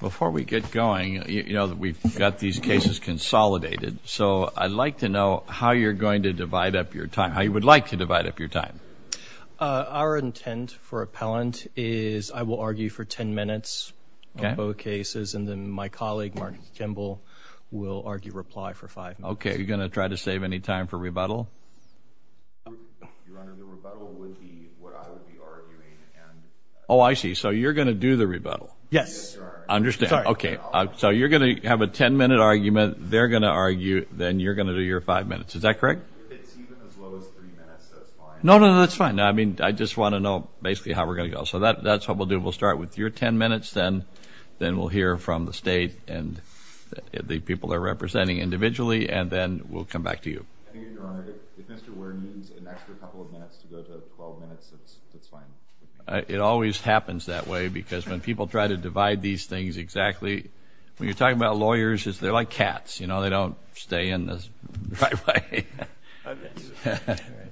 Before we get going, you know, we've got these cases consolidated, so I'd like to know how you're going to divide up your time, how you would like to divide up your time. Our intent for appellant is I will argue for 10 minutes on both cases, and then my colleague Mark Kimball will argue reply for 5 minutes. Okay, are you going to try to save any time for rebuttal? Your Honor, the rebuttal would be what I would be arguing, and... Oh I see, so you're going to do the rebuttal. Yes. I understand. Sorry. Okay, so you're going to have a 10 minute argument, they're going to argue, then you're going to do your 5 minutes. Is that correct? If it's even as low as 3 minutes, that's fine. No, no, no, that's fine. I mean, I just want to know basically how we're going to go. So that's what we'll do. We'll start with your 10 minutes, then we'll hear from the state and the people they're representing individually, and then we'll come back to you. I think, Your Honor, if Mr. Ware needs an extra couple of minutes to go to 12 minutes, that's fine. It always happens that way, because when people try to divide these things exactly, when you're talking about lawyers, they're like cats, you know, they don't stay in the right way.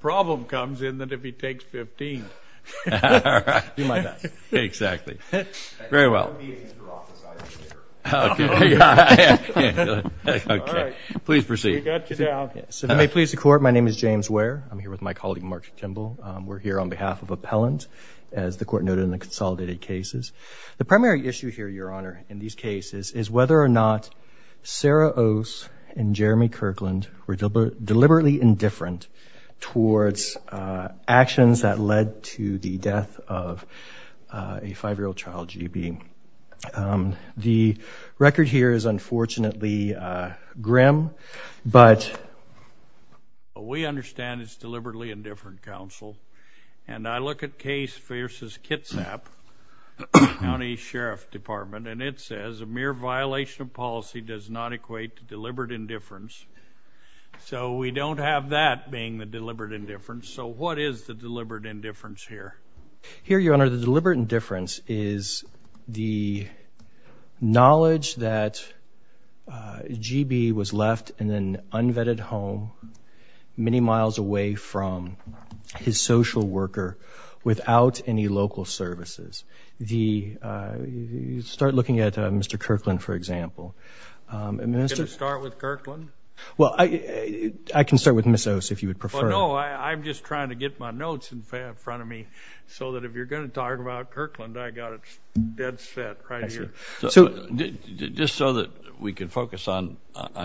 Problem comes in that if he takes 15. All right. Do my best. Exactly. Very well. I can't be in your office, I don't care. Okay. All right. Please proceed. We got you now. So if it may please the Court, my name is James Ware. I'm here with my colleague, Mark Kimball. We're here on behalf of Appellant, as the Court noted in the consolidated cases. The primary issue here, Your Honor, in these cases is whether or not Sarah Ose and Jeremy Kirkland were deliberately indifferent towards actions that led to the death of a five-year-old child, GB. The record here is unfortunately grim, but we understand it's deliberately indifferent, counsel, and I look at Case v. Kitsap, County Sheriff Department, and it says a mere violation of policy does not equate to deliberate indifference. So we don't have that being the deliberate indifference. So what is the deliberate indifference here? Here Your Honor, the deliberate indifference is the knowledge that GB was left in an unvetted home many miles away from his social worker without any local services. The start looking at Mr. Kirkland, for example, and Mr. Can I start with Kirkland? Well, I can start with Ms. Ose if you would prefer. Well, no, I'm just trying to get my notes in front of me so that if you're going to talk about Kirkland, I got it dead set right here. So just so that we can focus on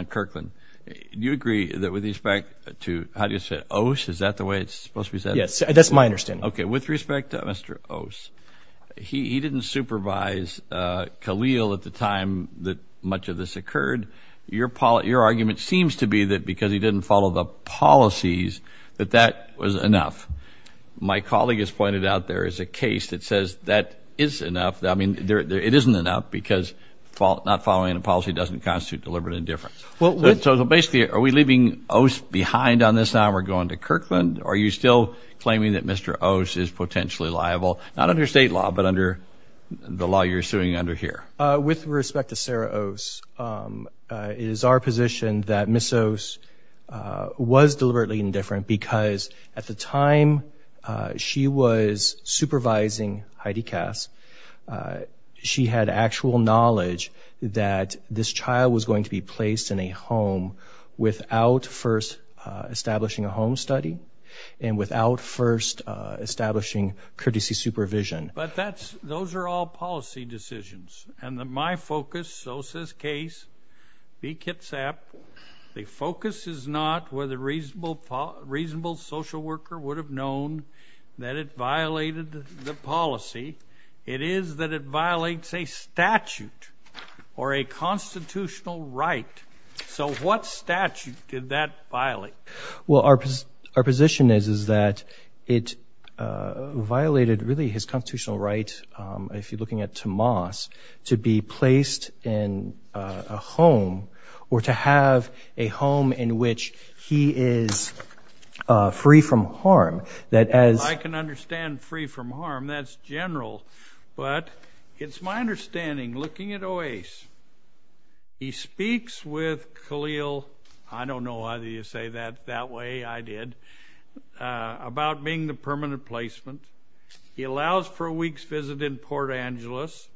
Kirkland, do you agree that with respect to, how do you say it, Ose, is that the way it's supposed to be said? Yes, that's my understanding. Okay, with respect to Mr. Ose, he didn't supervise Khalil at the time that much of this occurred. Your argument seems to be that because he didn't follow the policies that that was enough. My colleague has pointed out there is a case that says that is enough, I mean, it isn't enough because not following a policy doesn't constitute deliberate indifference. So basically, are we leaving Ose behind on this now we're going to Kirkland? Are you still claiming that Mr. Ose is potentially liable, not under state law, but under the law you're suing under here? With respect to Sarah Ose, it is our position that Ms. Ose was deliberately indifferent because at the time she was supervising Heidi Kass, she had actual knowledge that this child was going to be placed in a home without first establishing a home study and without first establishing courtesy supervision. But those are all policy decisions and my focus, Ose's case, be kitsap, the focus is not whether a reasonable social worker would have known that it violated the policy. It is that it violates a statute or a constitutional right. So what statute did that violate? Well our position is that it violated really his constitutional right, if you're looking at Tomas, to be placed in a home or to have a home in which he is free from harm. I can understand free from harm, that's general, but it's my understanding, looking at Ose, he speaks with Khalil, I don't know why you say that that way, I did, about being the permanent placement. He allows for a week's visit in Port Angeles.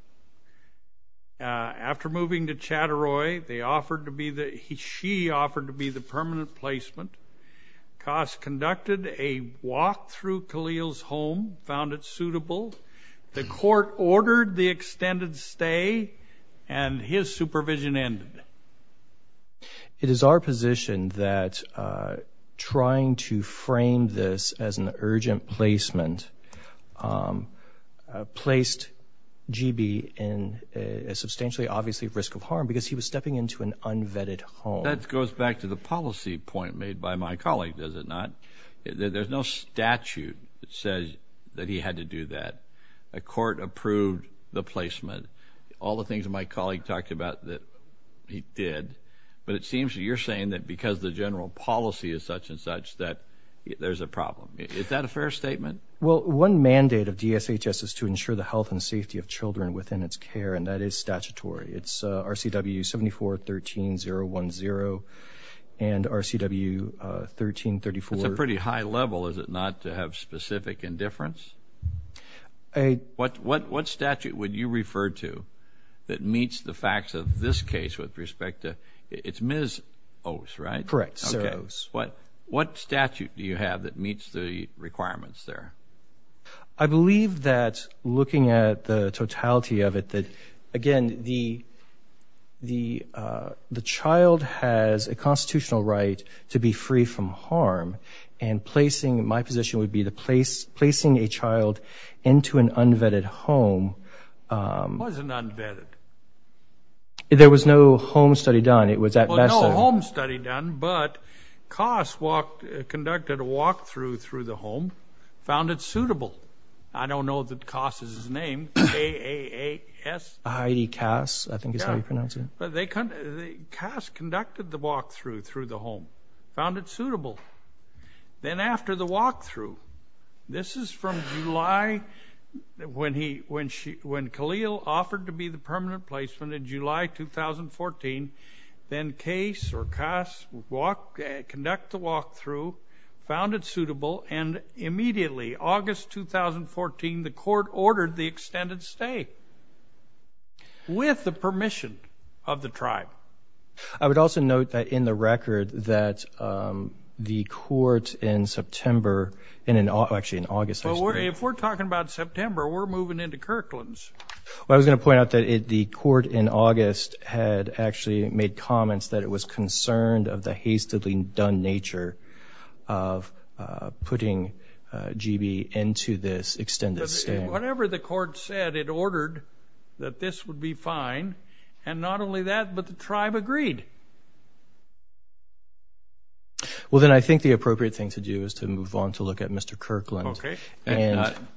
After moving to Chattaroy, they offered to be the, she offered to be the permanent placement. Kass conducted a walk through Khalil's home, found it suitable. The court ordered the extended stay and his supervision ended. It is our position that trying to frame this as an urgent placement placed GB in a substantially obviously risk of harm because he was stepping into an unvetted home. That goes back to the policy point made by my colleague, does it not? There's no statute that says that he had to do that. A court approved the placement. All the things my colleague talked about that he did, but it seems that you're saying that because the general policy is such and such that there's a problem. Is that a fair statement? Well, one mandate of DSHS is to ensure the health and safety of children within its care and that is statutory. It's RCW 74-13-010 and RCW 13-34. That's a pretty high level, is it not, to have specific indifference? What statute would you refer to that meets the facts of this case with respect to, it's Ms. Ose, right? Correct, Sarah Ose. What statute do you have that meets the requirements there? I believe that looking at the totality of it, that again, the child has a constitutional right to be free from harm and placing, my position would be placing a child into an unvetted home. It wasn't unvetted. There was no home study done. Well, no home study done, but Kass conducted a walk-through through the home, found it suitable. I don't know that Kass is his name, K-A-S-S. Heidi Kass, I think is how you pronounce it. Kass conducted the walk-through through the home, found it suitable. Then after the walk-through, this is from July, when Khalil offered to be the permanent placement in July 2014, then Kass conducted the walk-through, found it suitable, and immediately, August 2014, the court ordered the extended stay with the permission of the tribe. I would also note that in the record that the court in September, actually in August. If we're talking about September, we're moving into Kirklands. Well, I was going to point out that the court in August had actually made comments that it was concerned of the hastily done nature of putting GB into this extended stay. Whatever the court said, it ordered that this would be fine, and not only that, but the tribe agreed. Well, then I think the appropriate thing to do is to move on to look at Mr. Kirkland. Okay.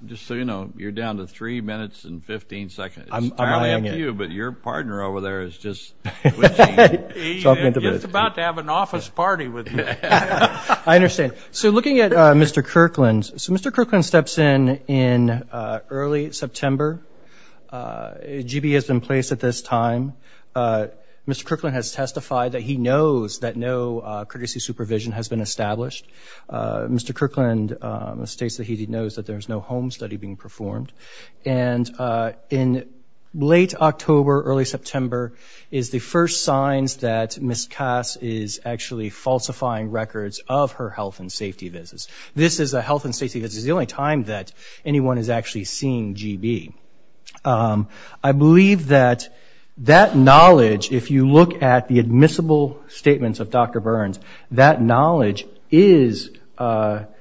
Just so you know, you're down to three minutes and 15 seconds. I'm eyeing it. It's entirely up to you, but your partner over there is just twitching. He's just about to have an office party with you. I understand. Okay, so looking at Mr. Kirkland, so Mr. Kirkland steps in in early September. GB has been placed at this time. Mr. Kirkland has testified that he knows that no courtesy supervision has been established. Mr. Kirkland states that he knows that there's no home study being performed. And in late October, early September, is the first signs that Ms. Kass is actually falsifying records of her health and safety visits. This is a health and safety visit. This is the only time that anyone is actually seeing GB. I believe that that knowledge, if you look at the admissible statements of Dr. Burns, that knowledge is something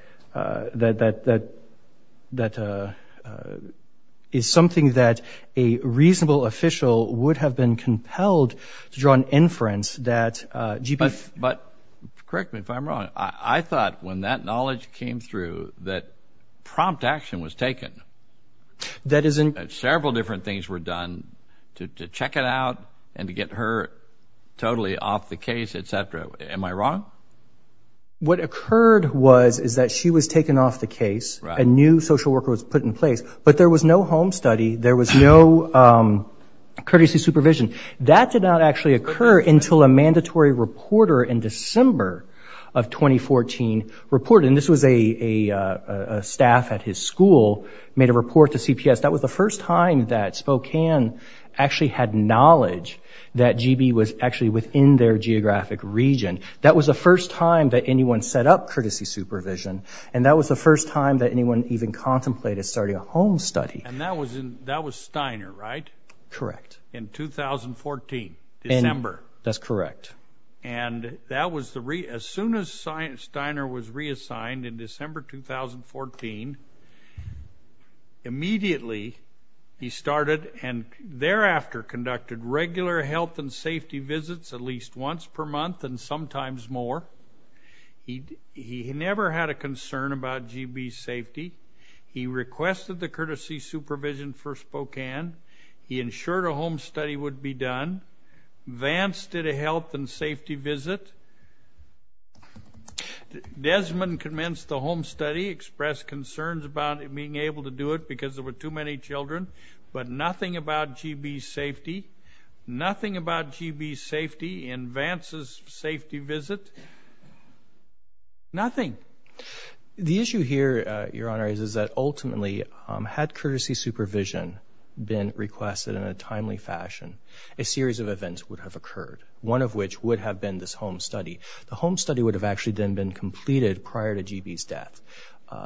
that a reasonable official would have been compelled to draw an inference that GB. But correct me if I'm wrong. I thought when that knowledge came through that prompt action was taken. That is in. Several different things were done to check it out and to get her totally off the case, et cetera. Am I wrong? What occurred was is that she was taken off the case. A new social worker was put in place. But there was no home study. There was no courtesy supervision. That did not actually occur until a mandatory reporter in December of 2014 reported. And this was a staff at his school made a report to CPS. That was the first time that Spokane actually had knowledge that GB was actually within their geographic region. That was the first time that anyone set up courtesy supervision. And that was the first time that anyone even contemplated starting a home study. And that was Steiner, right? Correct. In 2014, December. That's correct. And that was as soon as Steiner was reassigned in December 2014, immediately he started and thereafter conducted regular health and safety visits at least once per month and sometimes more. He never had a concern about GB's safety. He requested the courtesy supervision for Spokane. He ensured a home study would be done. Vance did a health and safety visit. Desmond commenced the home study, expressed concerns about being able to do it because there were too many children. But nothing about GB's safety. Nothing about GB's safety in Vance's safety visit. Nothing. The issue here, Your Honor, is that ultimately had courtesy supervision been requested in a timely fashion, a series of events would have occurred, one of which would have been this home study. The home study would have actually then been completed prior to GB's death.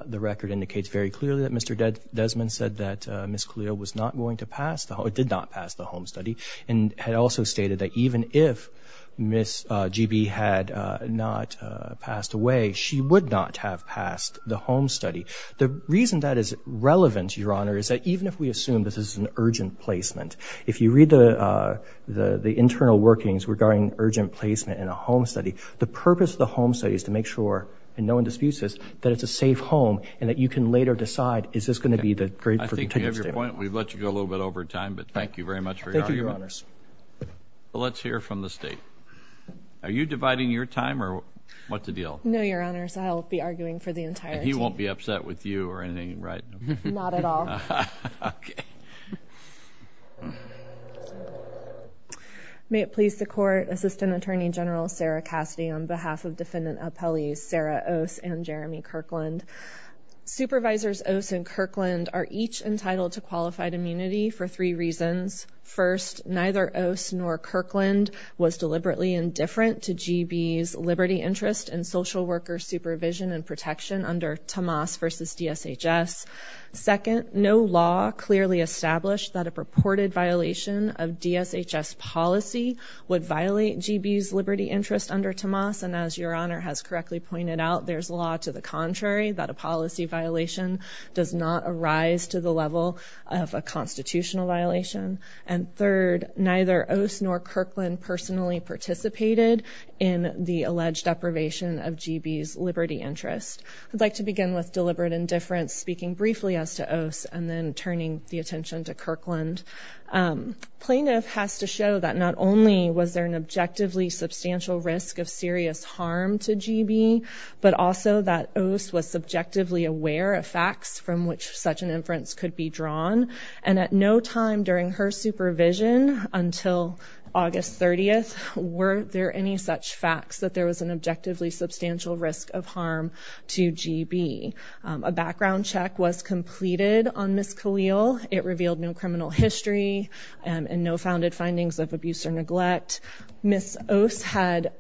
The record indicates very clearly that Mr. Desmond said that Ms. Calillo was not going to pass, or did not pass the home study, and had also stated that even if Ms. GB had not passed away, she would not have passed the home study. The reason that is relevant, Your Honor, is that even if we assume this is an urgent placement, if you read the internal workings regarding urgent placement in a home study, the purpose of the home study is to make sure, and no one disputes this, that it's a safe home, and that you can later decide is this going to be the grade for continuous stay. I think you have your point. We've let you go a little bit over time, but thank you very much for your argument. Thank you, Your Honors. Let's hear from the State. Are you dividing your time, or what's the deal? No, Your Honors. I'll be arguing for the entirety. And he won't be upset with you or anything, right? Not at all. Okay. May it please the Court, Assistant Attorney General Sarah Cassidy, on behalf of Defendant Appellees Sarah Oss and Jeremy Kirkland. Supervisors Oss and Kirkland are each entitled to qualified immunity for three reasons. First, neither Oss nor Kirkland was deliberately indifferent to GB's liberty, interest, and social worker supervision and protection under Tomas v. DSHS. Second, no law clearly established that a purported violation of DSHS policy would violate GB's liberty interest under Tomas, and as Your Honor has correctly pointed out, there's law to the contrary, that a policy violation does not arise to the level of a constitutional violation. And third, neither Oss nor Kirkland personally participated in the alleged deprivation of GB's liberty interest. I'd like to begin with deliberate indifference, speaking briefly as to Oss, and then turning the attention to Kirkland. Plaintiff has to show that not only was there an objectively substantial risk of serious harm to GB, but also that Oss was subjectively aware of facts from which such an inference could be drawn, and at no time during her supervision until August 30th were there any such facts that there was an objectively substantial risk of harm to GB. A background check was completed on Ms. Khalil. It revealed no criminal history and no founded findings of abuse or neglect. Ms. Oss had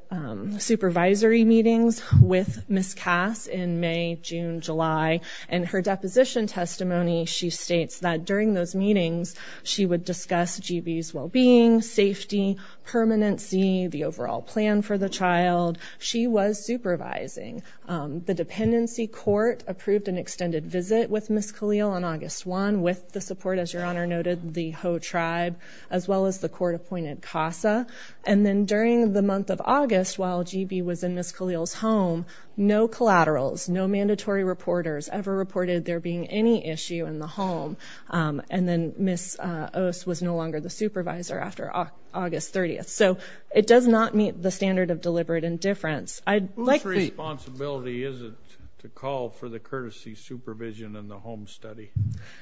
supervisory meetings with Ms. Cass in May, June, July, and her deposition testimony, she states that during those meetings, she would discuss GB's well-being, safety, permanency, the overall plan for the child. She was supervising. The dependency court approved an extended visit with Ms. Khalil on August 1, with the support, as Your Honor noted, the Ho tribe, as well as the court-appointed CASA. And then during the month of August, while GB was in Ms. Khalil's home, no collaterals, no mandatory reporters ever reported there being any issue in the home. And then Ms. Oss was no longer the supervisor after August 30th. So it does not meet the standard of deliberate indifference. Whose responsibility is it to call for the courtesy supervision in the home study?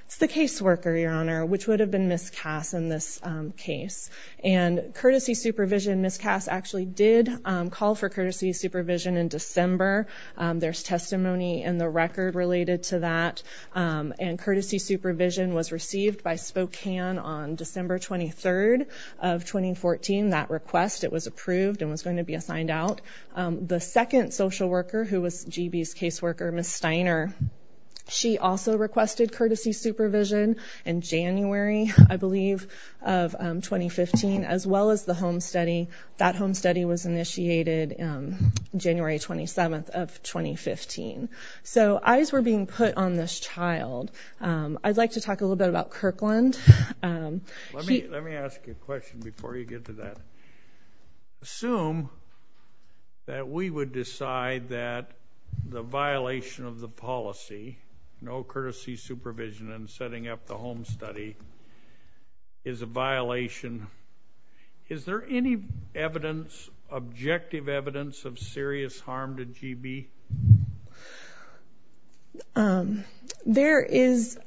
It's the caseworker, Your Honor, which would have been Ms. Cass in this case. And courtesy supervision, Ms. Cass actually did call for courtesy supervision in December. There's testimony in the record related to that. And courtesy supervision was received by Spokane on December 23rd of 2014. That request, it was approved and was going to be assigned out. The second social worker who was GB's caseworker, Ms. Steiner, she also requested courtesy supervision in January, I believe, of 2015, as well as the home study. That home study was initiated January 27th of 2015. So eyes were being put on this child. I'd like to talk a little bit about Kirkland. Let me ask you a question before you get to that. Assume that we would decide that the violation of the policy, no courtesy supervision in setting up the home study, is a violation. Is there any evidence, objective evidence, of serious harm to GB? There is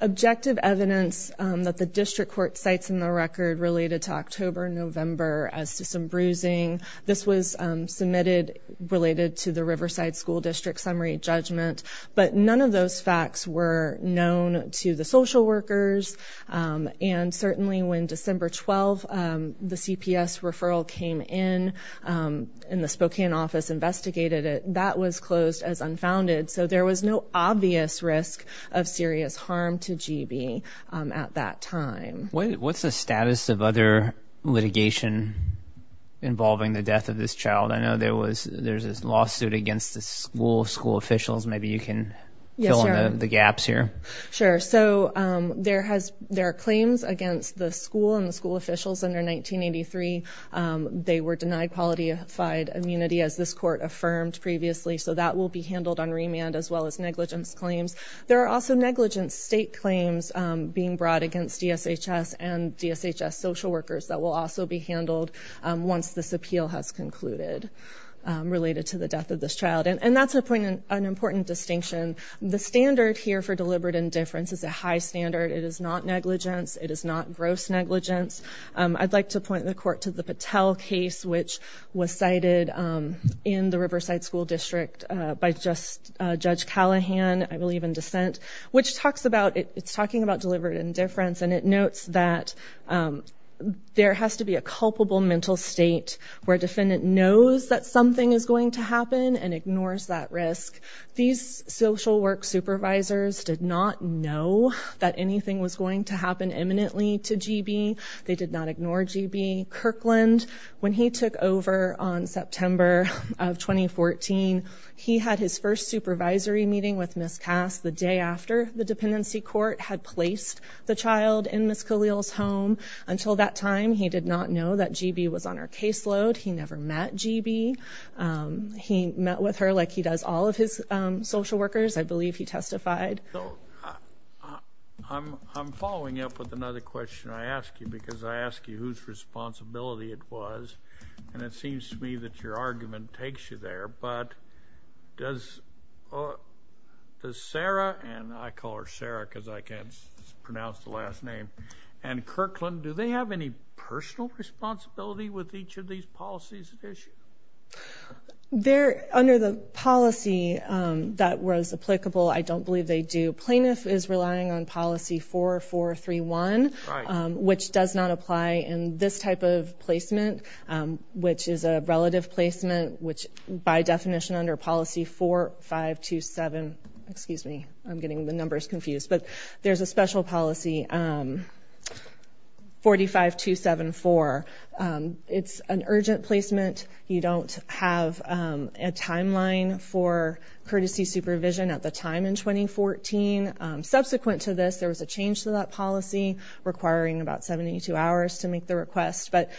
objective evidence that the district court cites in the record related to October and November as to some bruising. This was submitted related to the Riverside School District summary judgment. But none of those facts were known to the social workers. And certainly when December 12th, the CPS referral came in, and the Spokane office investigated it, that was closed as unfounded. So there was no obvious risk of serious harm to GB at that time. What's the status of other litigation involving the death of this child? I know there's this lawsuit against the school officials. Maybe you can fill in the gaps here. Sure. So there are claims against the school and the school officials under 1983. They were denied qualified immunity, as this court affirmed previously. So that will be handled on remand, as well as negligence claims. There are also negligence state claims being brought against DSHS and DSHS social workers that will also be handled once this appeal has concluded related to the death of this child. And that's an important distinction. The standard here for deliberate indifference is a high standard. It is not negligence. It is not gross negligence. I'd like to point the court to the Patel case, which was cited in the Riverside School District by Judge Callahan, I believe, in dissent, which talks about it's talking about deliberate indifference. And it notes that there has to be a culpable mental state where a defendant knows that something is going to happen and ignores that risk. These social work supervisors did not know that anything was going to happen imminently to GB. They did not ignore GB. Kirkland, when he took over on September of 2014, he had his first supervisory meeting with Ms. Cass the day after the dependency court had placed the child in Ms. Khalil's home. Until that time, he did not know that GB was on her caseload. He never met GB. He met with her like he does all of his social workers. I believe he testified. I'm following up with another question I ask you because I ask you whose responsibility it was. And it seems to me that your argument takes you there. But does Sarah, and I call her Sarah because I can't pronounce the last name, and Kirkland, do they have any personal responsibility with each of these policies at issue? Under the policy that was applicable, I don't believe they do. Plaintiff is relying on policy 4431, which does not apply in this type of placement, which is a relative placement, which by definition under policy 4527, excuse me, I'm getting the numbers confused, but there's a special policy 45274. It's an urgent placement. You don't have a timeline for courtesy supervision at the time in 2014. Subsequent to this, there was a change to that policy requiring about 72 hours to make the request. But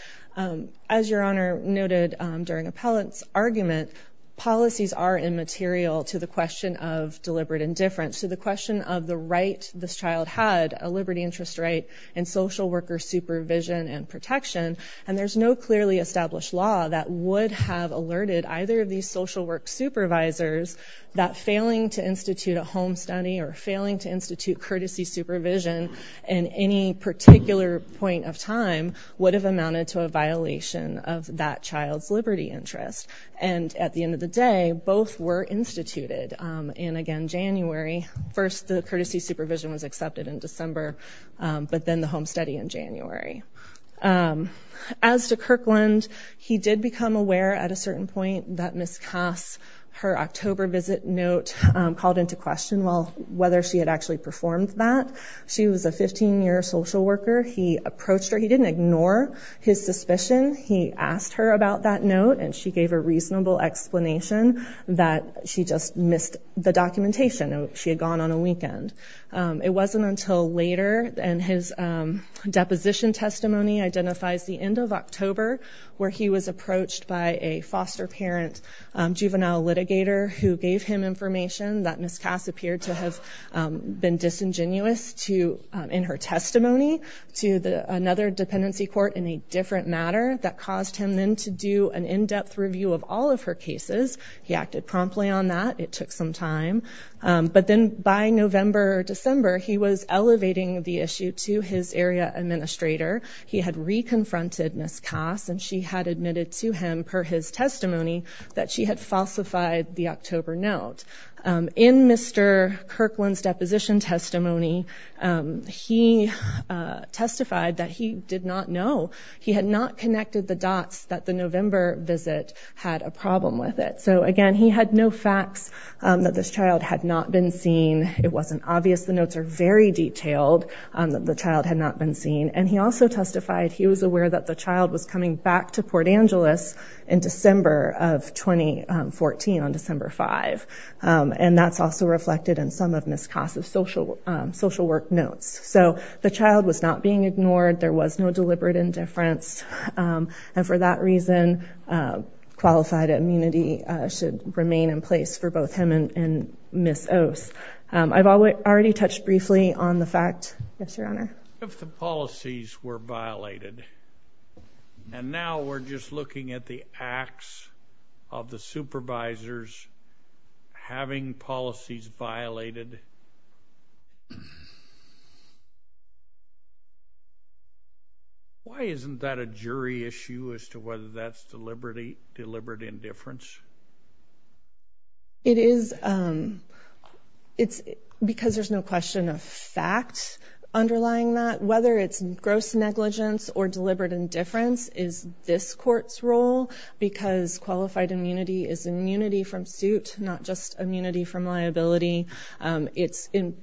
as your Honor noted during Appellant's argument, policies are immaterial to the question of deliberate indifference, to the question of the right this child had, a liberty interest right, and social worker supervision and protection. And there's no clearly established law that would have alerted either of these social work supervisors that failing to institute a home study or failing to institute courtesy supervision in any particular point of time would have amounted to a violation of that child's liberty interest. And at the end of the day, both were instituted in, again, January. First the courtesy supervision was accepted in December, but then the home study in January. As to Kirkland, he did become aware at a certain point that Ms. Kass, her October visit note called into question whether she had actually performed that. She was a 15-year social worker. He approached her. He didn't ignore his suspicion. He asked her about that note, and she gave a reasonable explanation that she just missed the documentation. She had gone on a weekend. It wasn't until later, and his deposition testimony identifies the end of October, where he was approached by a foster parent juvenile litigator who gave him information that Ms. Kass appeared to have been disingenuous in her testimony to another dependency court in a different matter. That caused him then to do an in-depth review of all of her cases. He acted promptly on that. It took some time. But then by November or December, he was elevating the issue to his area administrator. He had reconfronted Ms. Kass, and she had admitted to him, per his testimony, that she had falsified the October note. In Mr. Kirkland's deposition testimony, he testified that he did not know. He had not connected the dots that the November visit had a problem with it. So, again, he had no facts that this child had not been seen. It wasn't obvious. The notes are very detailed that the child had not been seen. And he also testified he was aware that the child was coming back to Port Angeles in December of 2014, on December 5. And that's also reflected in some of Ms. Kass's social work notes. So the child was not being ignored. There was no deliberate indifference. And for that reason, qualified immunity should remain in place for both him and Ms. Ose. I've already touched briefly on the fact – yes, Your Honor? If the policies were violated, and now we're just looking at the acts of the supervisors having policies violated, why isn't that a jury issue as to whether that's deliberate indifference? It is because there's no question of fact underlying that. Whether it's gross negligence or deliberate indifference is this Court's role, because qualified immunity is immunity from suit, not just immunity from liability.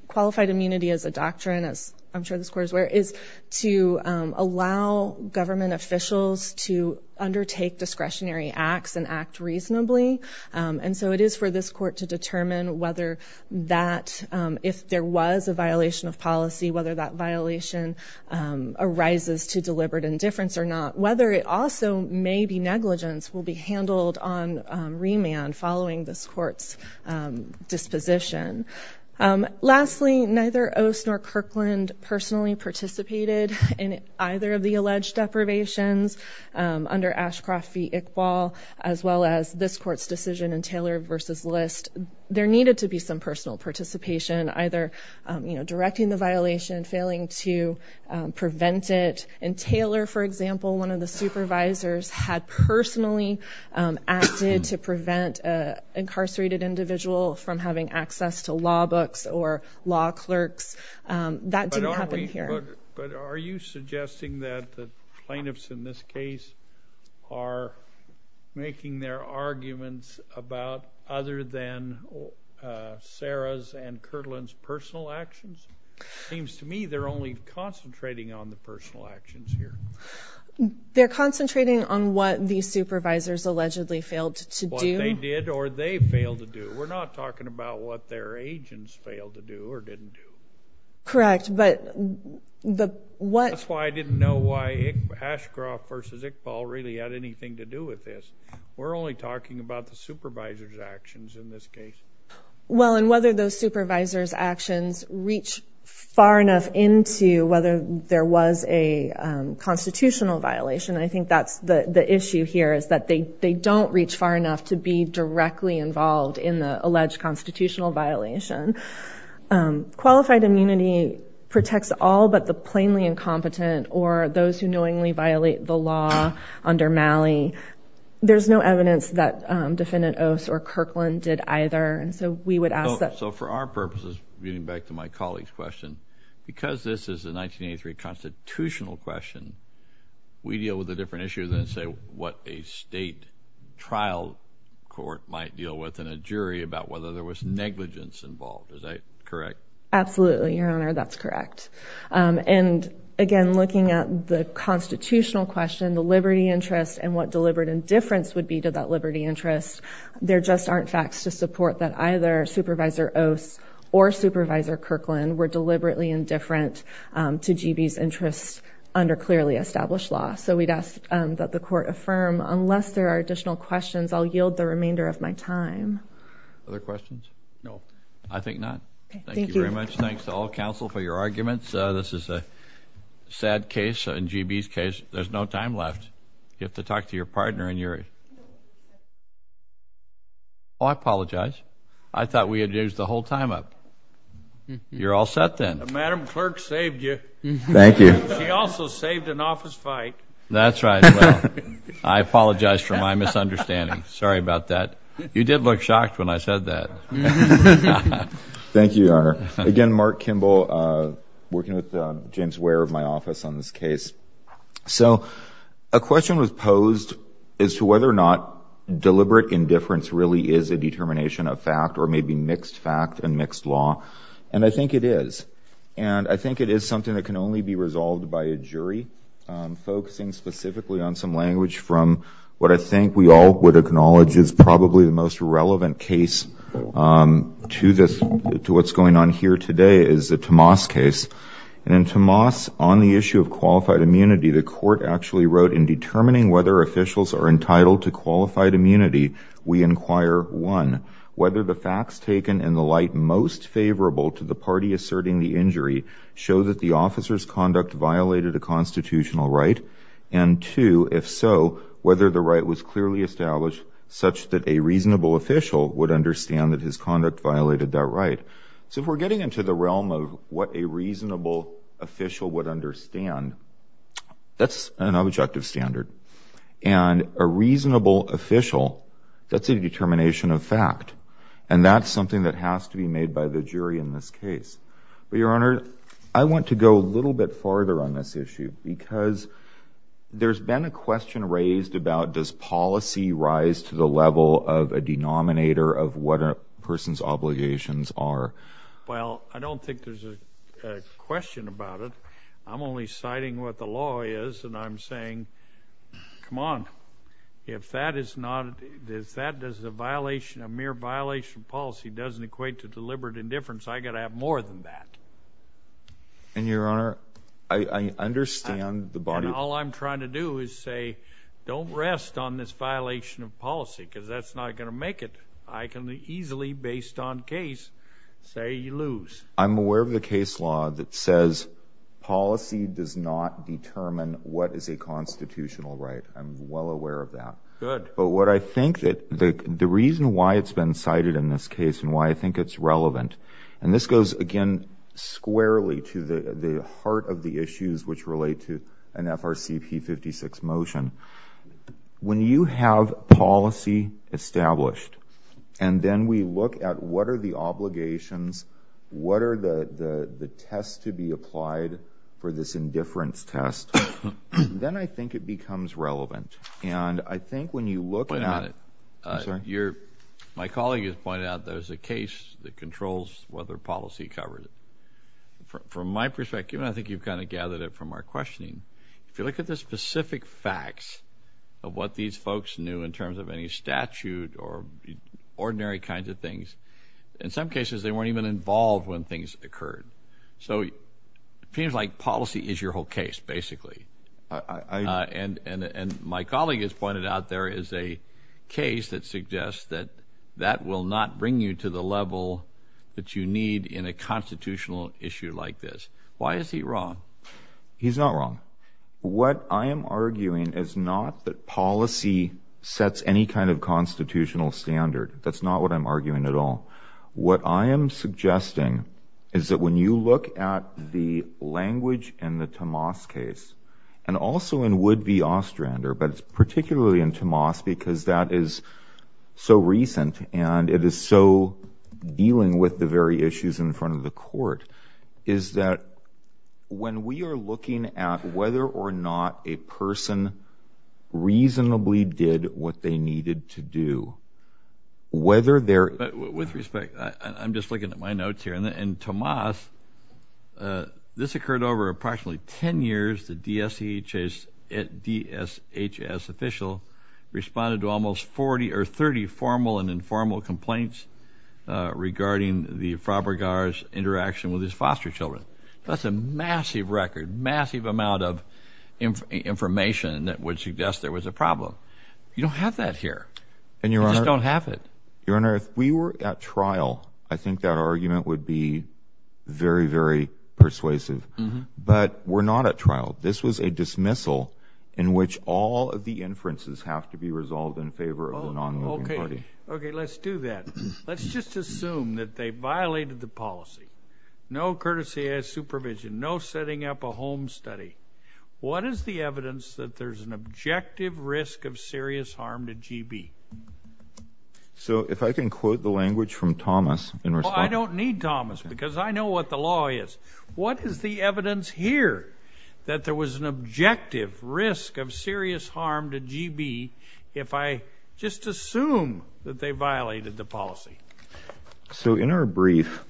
Qualified immunity as a doctrine, as I'm sure this Court is aware, is to allow government officials to undertake discretionary acts and act reasonably. And so it is for this Court to determine whether that – if there was a violation of policy, whether that violation arises to deliberate indifference or not. Whether it also may be negligence will be handled on remand following this Court's disposition. Lastly, neither Ose nor Kirkland personally participated in either of the alleged deprivations. Under Ashcroft v. Iqbal, as well as this Court's decision in Taylor v. List, there needed to be some personal participation, either directing the violation, failing to prevent it. In Taylor, for example, one of the supervisors had personally acted to prevent an incarcerated individual from having access to law books or law clerks. That didn't happen here. But are you suggesting that the plaintiffs in this case are making their arguments about other than Sarah's and Kirkland's personal actions? It seems to me they're only concentrating on the personal actions here. They're concentrating on what the supervisors allegedly failed to do. What they did or they failed to do. We're not talking about what their agents failed to do or didn't do. Correct, but the – what – That's why I didn't know why Ashcroft v. Iqbal really had anything to do with this. We're only talking about the supervisors' actions in this case. Well, and whether those supervisors' actions reach far enough into whether there was a constitutional violation, I think that's the issue here, is that they don't reach far enough to be directly involved in the alleged constitutional violation. Qualified immunity protects all but the plainly incompetent or those who knowingly violate the law under Malley. There's no evidence that Defendant Oss or Kirkland did either. And so we would ask that – So for our purposes, getting back to my colleague's question, because this is a 1983 constitutional question, we deal with a different issue than, say, what a state trial court might deal with and a jury about whether there was negligence involved. Is that correct? Absolutely, Your Honor, that's correct. And, again, looking at the constitutional question, the liberty interest, and what deliberate indifference would be to that liberty interest, there just aren't facts to support that either Supervisor Oss or Supervisor Kirkland were deliberately indifferent to GB's interests under clearly established law. So we'd ask that the Court affirm, unless there are additional questions, I'll yield the remainder of my time. Other questions? No. I think not. Thank you very much. Thanks to all counsel for your arguments. This is a sad case in GB's case. There's no time left. You have to talk to your partner and your – Oh, I apologize. I thought we had used the whole time up. You're all set then. Madam Clerk saved you. Thank you. She also saved an office fight. That's right. Well, I apologize for my misunderstanding. Sorry about that. You did look shocked when I said that. Thank you, Your Honor. Again, Mark Kimball, working with James Ware of my office on this case. So a question was posed as to whether or not deliberate indifference really is a determination of fact or maybe mixed fact and mixed law, and I think it is. And I think it is something that can only be resolved by a jury focusing specifically on some language from what I think we all would acknowledge is probably the most relevant case to this, to what's going on here today, is the Tomas case. And in Tomas, on the issue of qualified immunity, the court actually wrote, in determining whether officials are entitled to qualified immunity, we inquire, one, whether the facts taken in the light most favorable to the party asserting the injury show that the officer's conduct violated a constitutional right, and two, if so, whether the right was clearly established such that a reasonable official would understand that his conduct violated that right. So if we're getting into the realm of what a reasonable official would understand, that's an objective standard. And a reasonable official, that's a determination of fact, and that's something that has to be made by the jury in this case. But, Your Honor, I want to go a little bit farther on this issue because there's been a question raised about does policy rise to the level of a denominator of what a person's obligations are. Well, I don't think there's a question about it. I'm only citing what the law is, and I'm saying, come on. If that is not, if that is a violation, a mere violation of policy doesn't equate to deliberate indifference, I've got to have more than that. And, Your Honor, I understand the body... And all I'm trying to do is say don't rest on this violation of policy because that's not going to make it. I can easily, based on case, say you lose. I'm aware of the case law that says policy does not determine what is a constitutional right. I'm well aware of that. Good. But what I think that the reason why it's been cited in this case and why I think it's relevant, and this goes, again, squarely to the heart of the issues which relate to an FRCP 56 motion, when you have policy established and then we look at what are the obligations, what are the tests to be applied for this indifference test, then I think it becomes relevant. And I think when you look at... Wait a minute. I'm sorry? My colleague has pointed out there's a case that controls whether policy covered it. From my perspective, and I think you've kind of gathered it from our questioning, if you look at the specific facts of what these folks knew in terms of any statute or ordinary kinds of things, in some cases, they weren't even involved when things occurred. So it seems like policy is your whole case, basically. And my colleague has pointed out there is a case that suggests that that will not bring you to the level that you need in a constitutional issue like this. Why is he wrong? He's not wrong. What I am arguing is not that policy sets any kind of constitutional standard. That's not what I'm arguing at all. What I am suggesting is that when you look at the language in the Tomas case, and also in would-be Ostrander, but particularly in Tomas because that is so recent and it is so dealing with the very issues in front of the court, is that when we are looking at whether or not a person reasonably did what they needed to do, whether there... With respect, I'm just looking at my notes here. In Tomas, this occurred over approximately 10 years. The DSHS official responded to almost 40 or 30 formal and informal complaints regarding the Frabregas interaction with his foster children. That's a massive record, massive amount of information that would suggest there was a problem. You don't have that here. You just don't have it. Your Honor, if we were at trial, I think that argument would be very, very persuasive. But we're not at trial. This was a dismissal in which all of the inferences have to be resolved in favor of the non-moving party. Okay, let's do that. Let's just assume that they violated the policy. No courtesy as supervision, no setting up a home study. What is the evidence that there's an objective risk of serious harm to GB? So if I can quote the language from Tomas in response... Well, I don't need Tomas because I know what the law is. What is the evidence here that there was an objective risk of serious harm to GB if I just assume that they violated the policy? So in our brief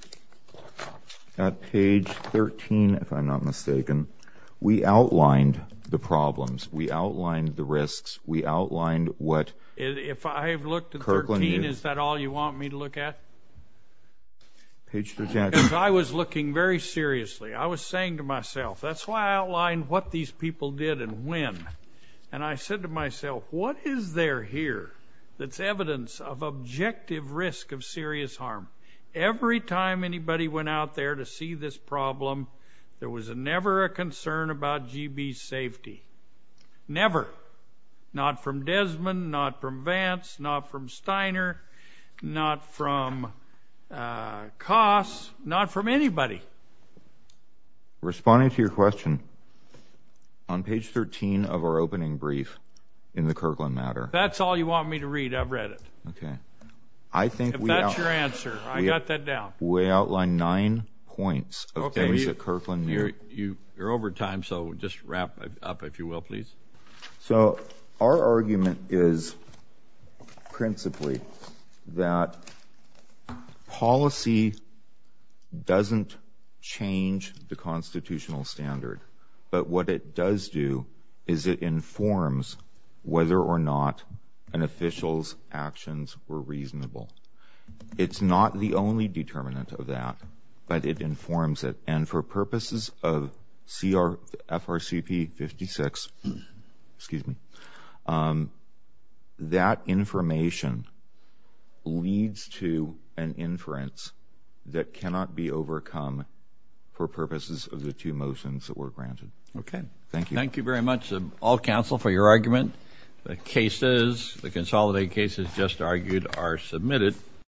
at page 13, if I'm not mistaken, we outlined the problems. We outlined the risks. We outlined what Kirkland did. If I have looked at 13, is that all you want me to look at? Page 13. Because I was looking very seriously. I was saying to myself, that's why I outlined what these people did and when. And I said to myself, what is there here that's evidence of objective risk of serious harm? Every time anybody went out there to see this problem, there was never a concern about GB's safety. Never. Not from Desmond. Not from Vance. Not from Steiner. Not from Koss. Not from anybody. Responding to your question, on page 13 of our opening brief in the Kirkland matter... That's all you want me to read. I've read it. Okay. If that's your answer, I got that down. We outlined nine points of things that Kirkland... You're over time, so just wrap up, if you will, please. So, our argument is principally that policy doesn't change the constitutional standard. But, what it does do, is it informs whether or not an official's actions were reasonable. It's not the only determinant of that, but it informs it. And, for purposes of FRCP 56... Excuse me. That information leads to an inference that cannot be overcome for purposes of the two motions that were granted. Okay. Thank you. Thank you very much to all counsel for your argument. The cases, the consolidated cases just argued, are submitted.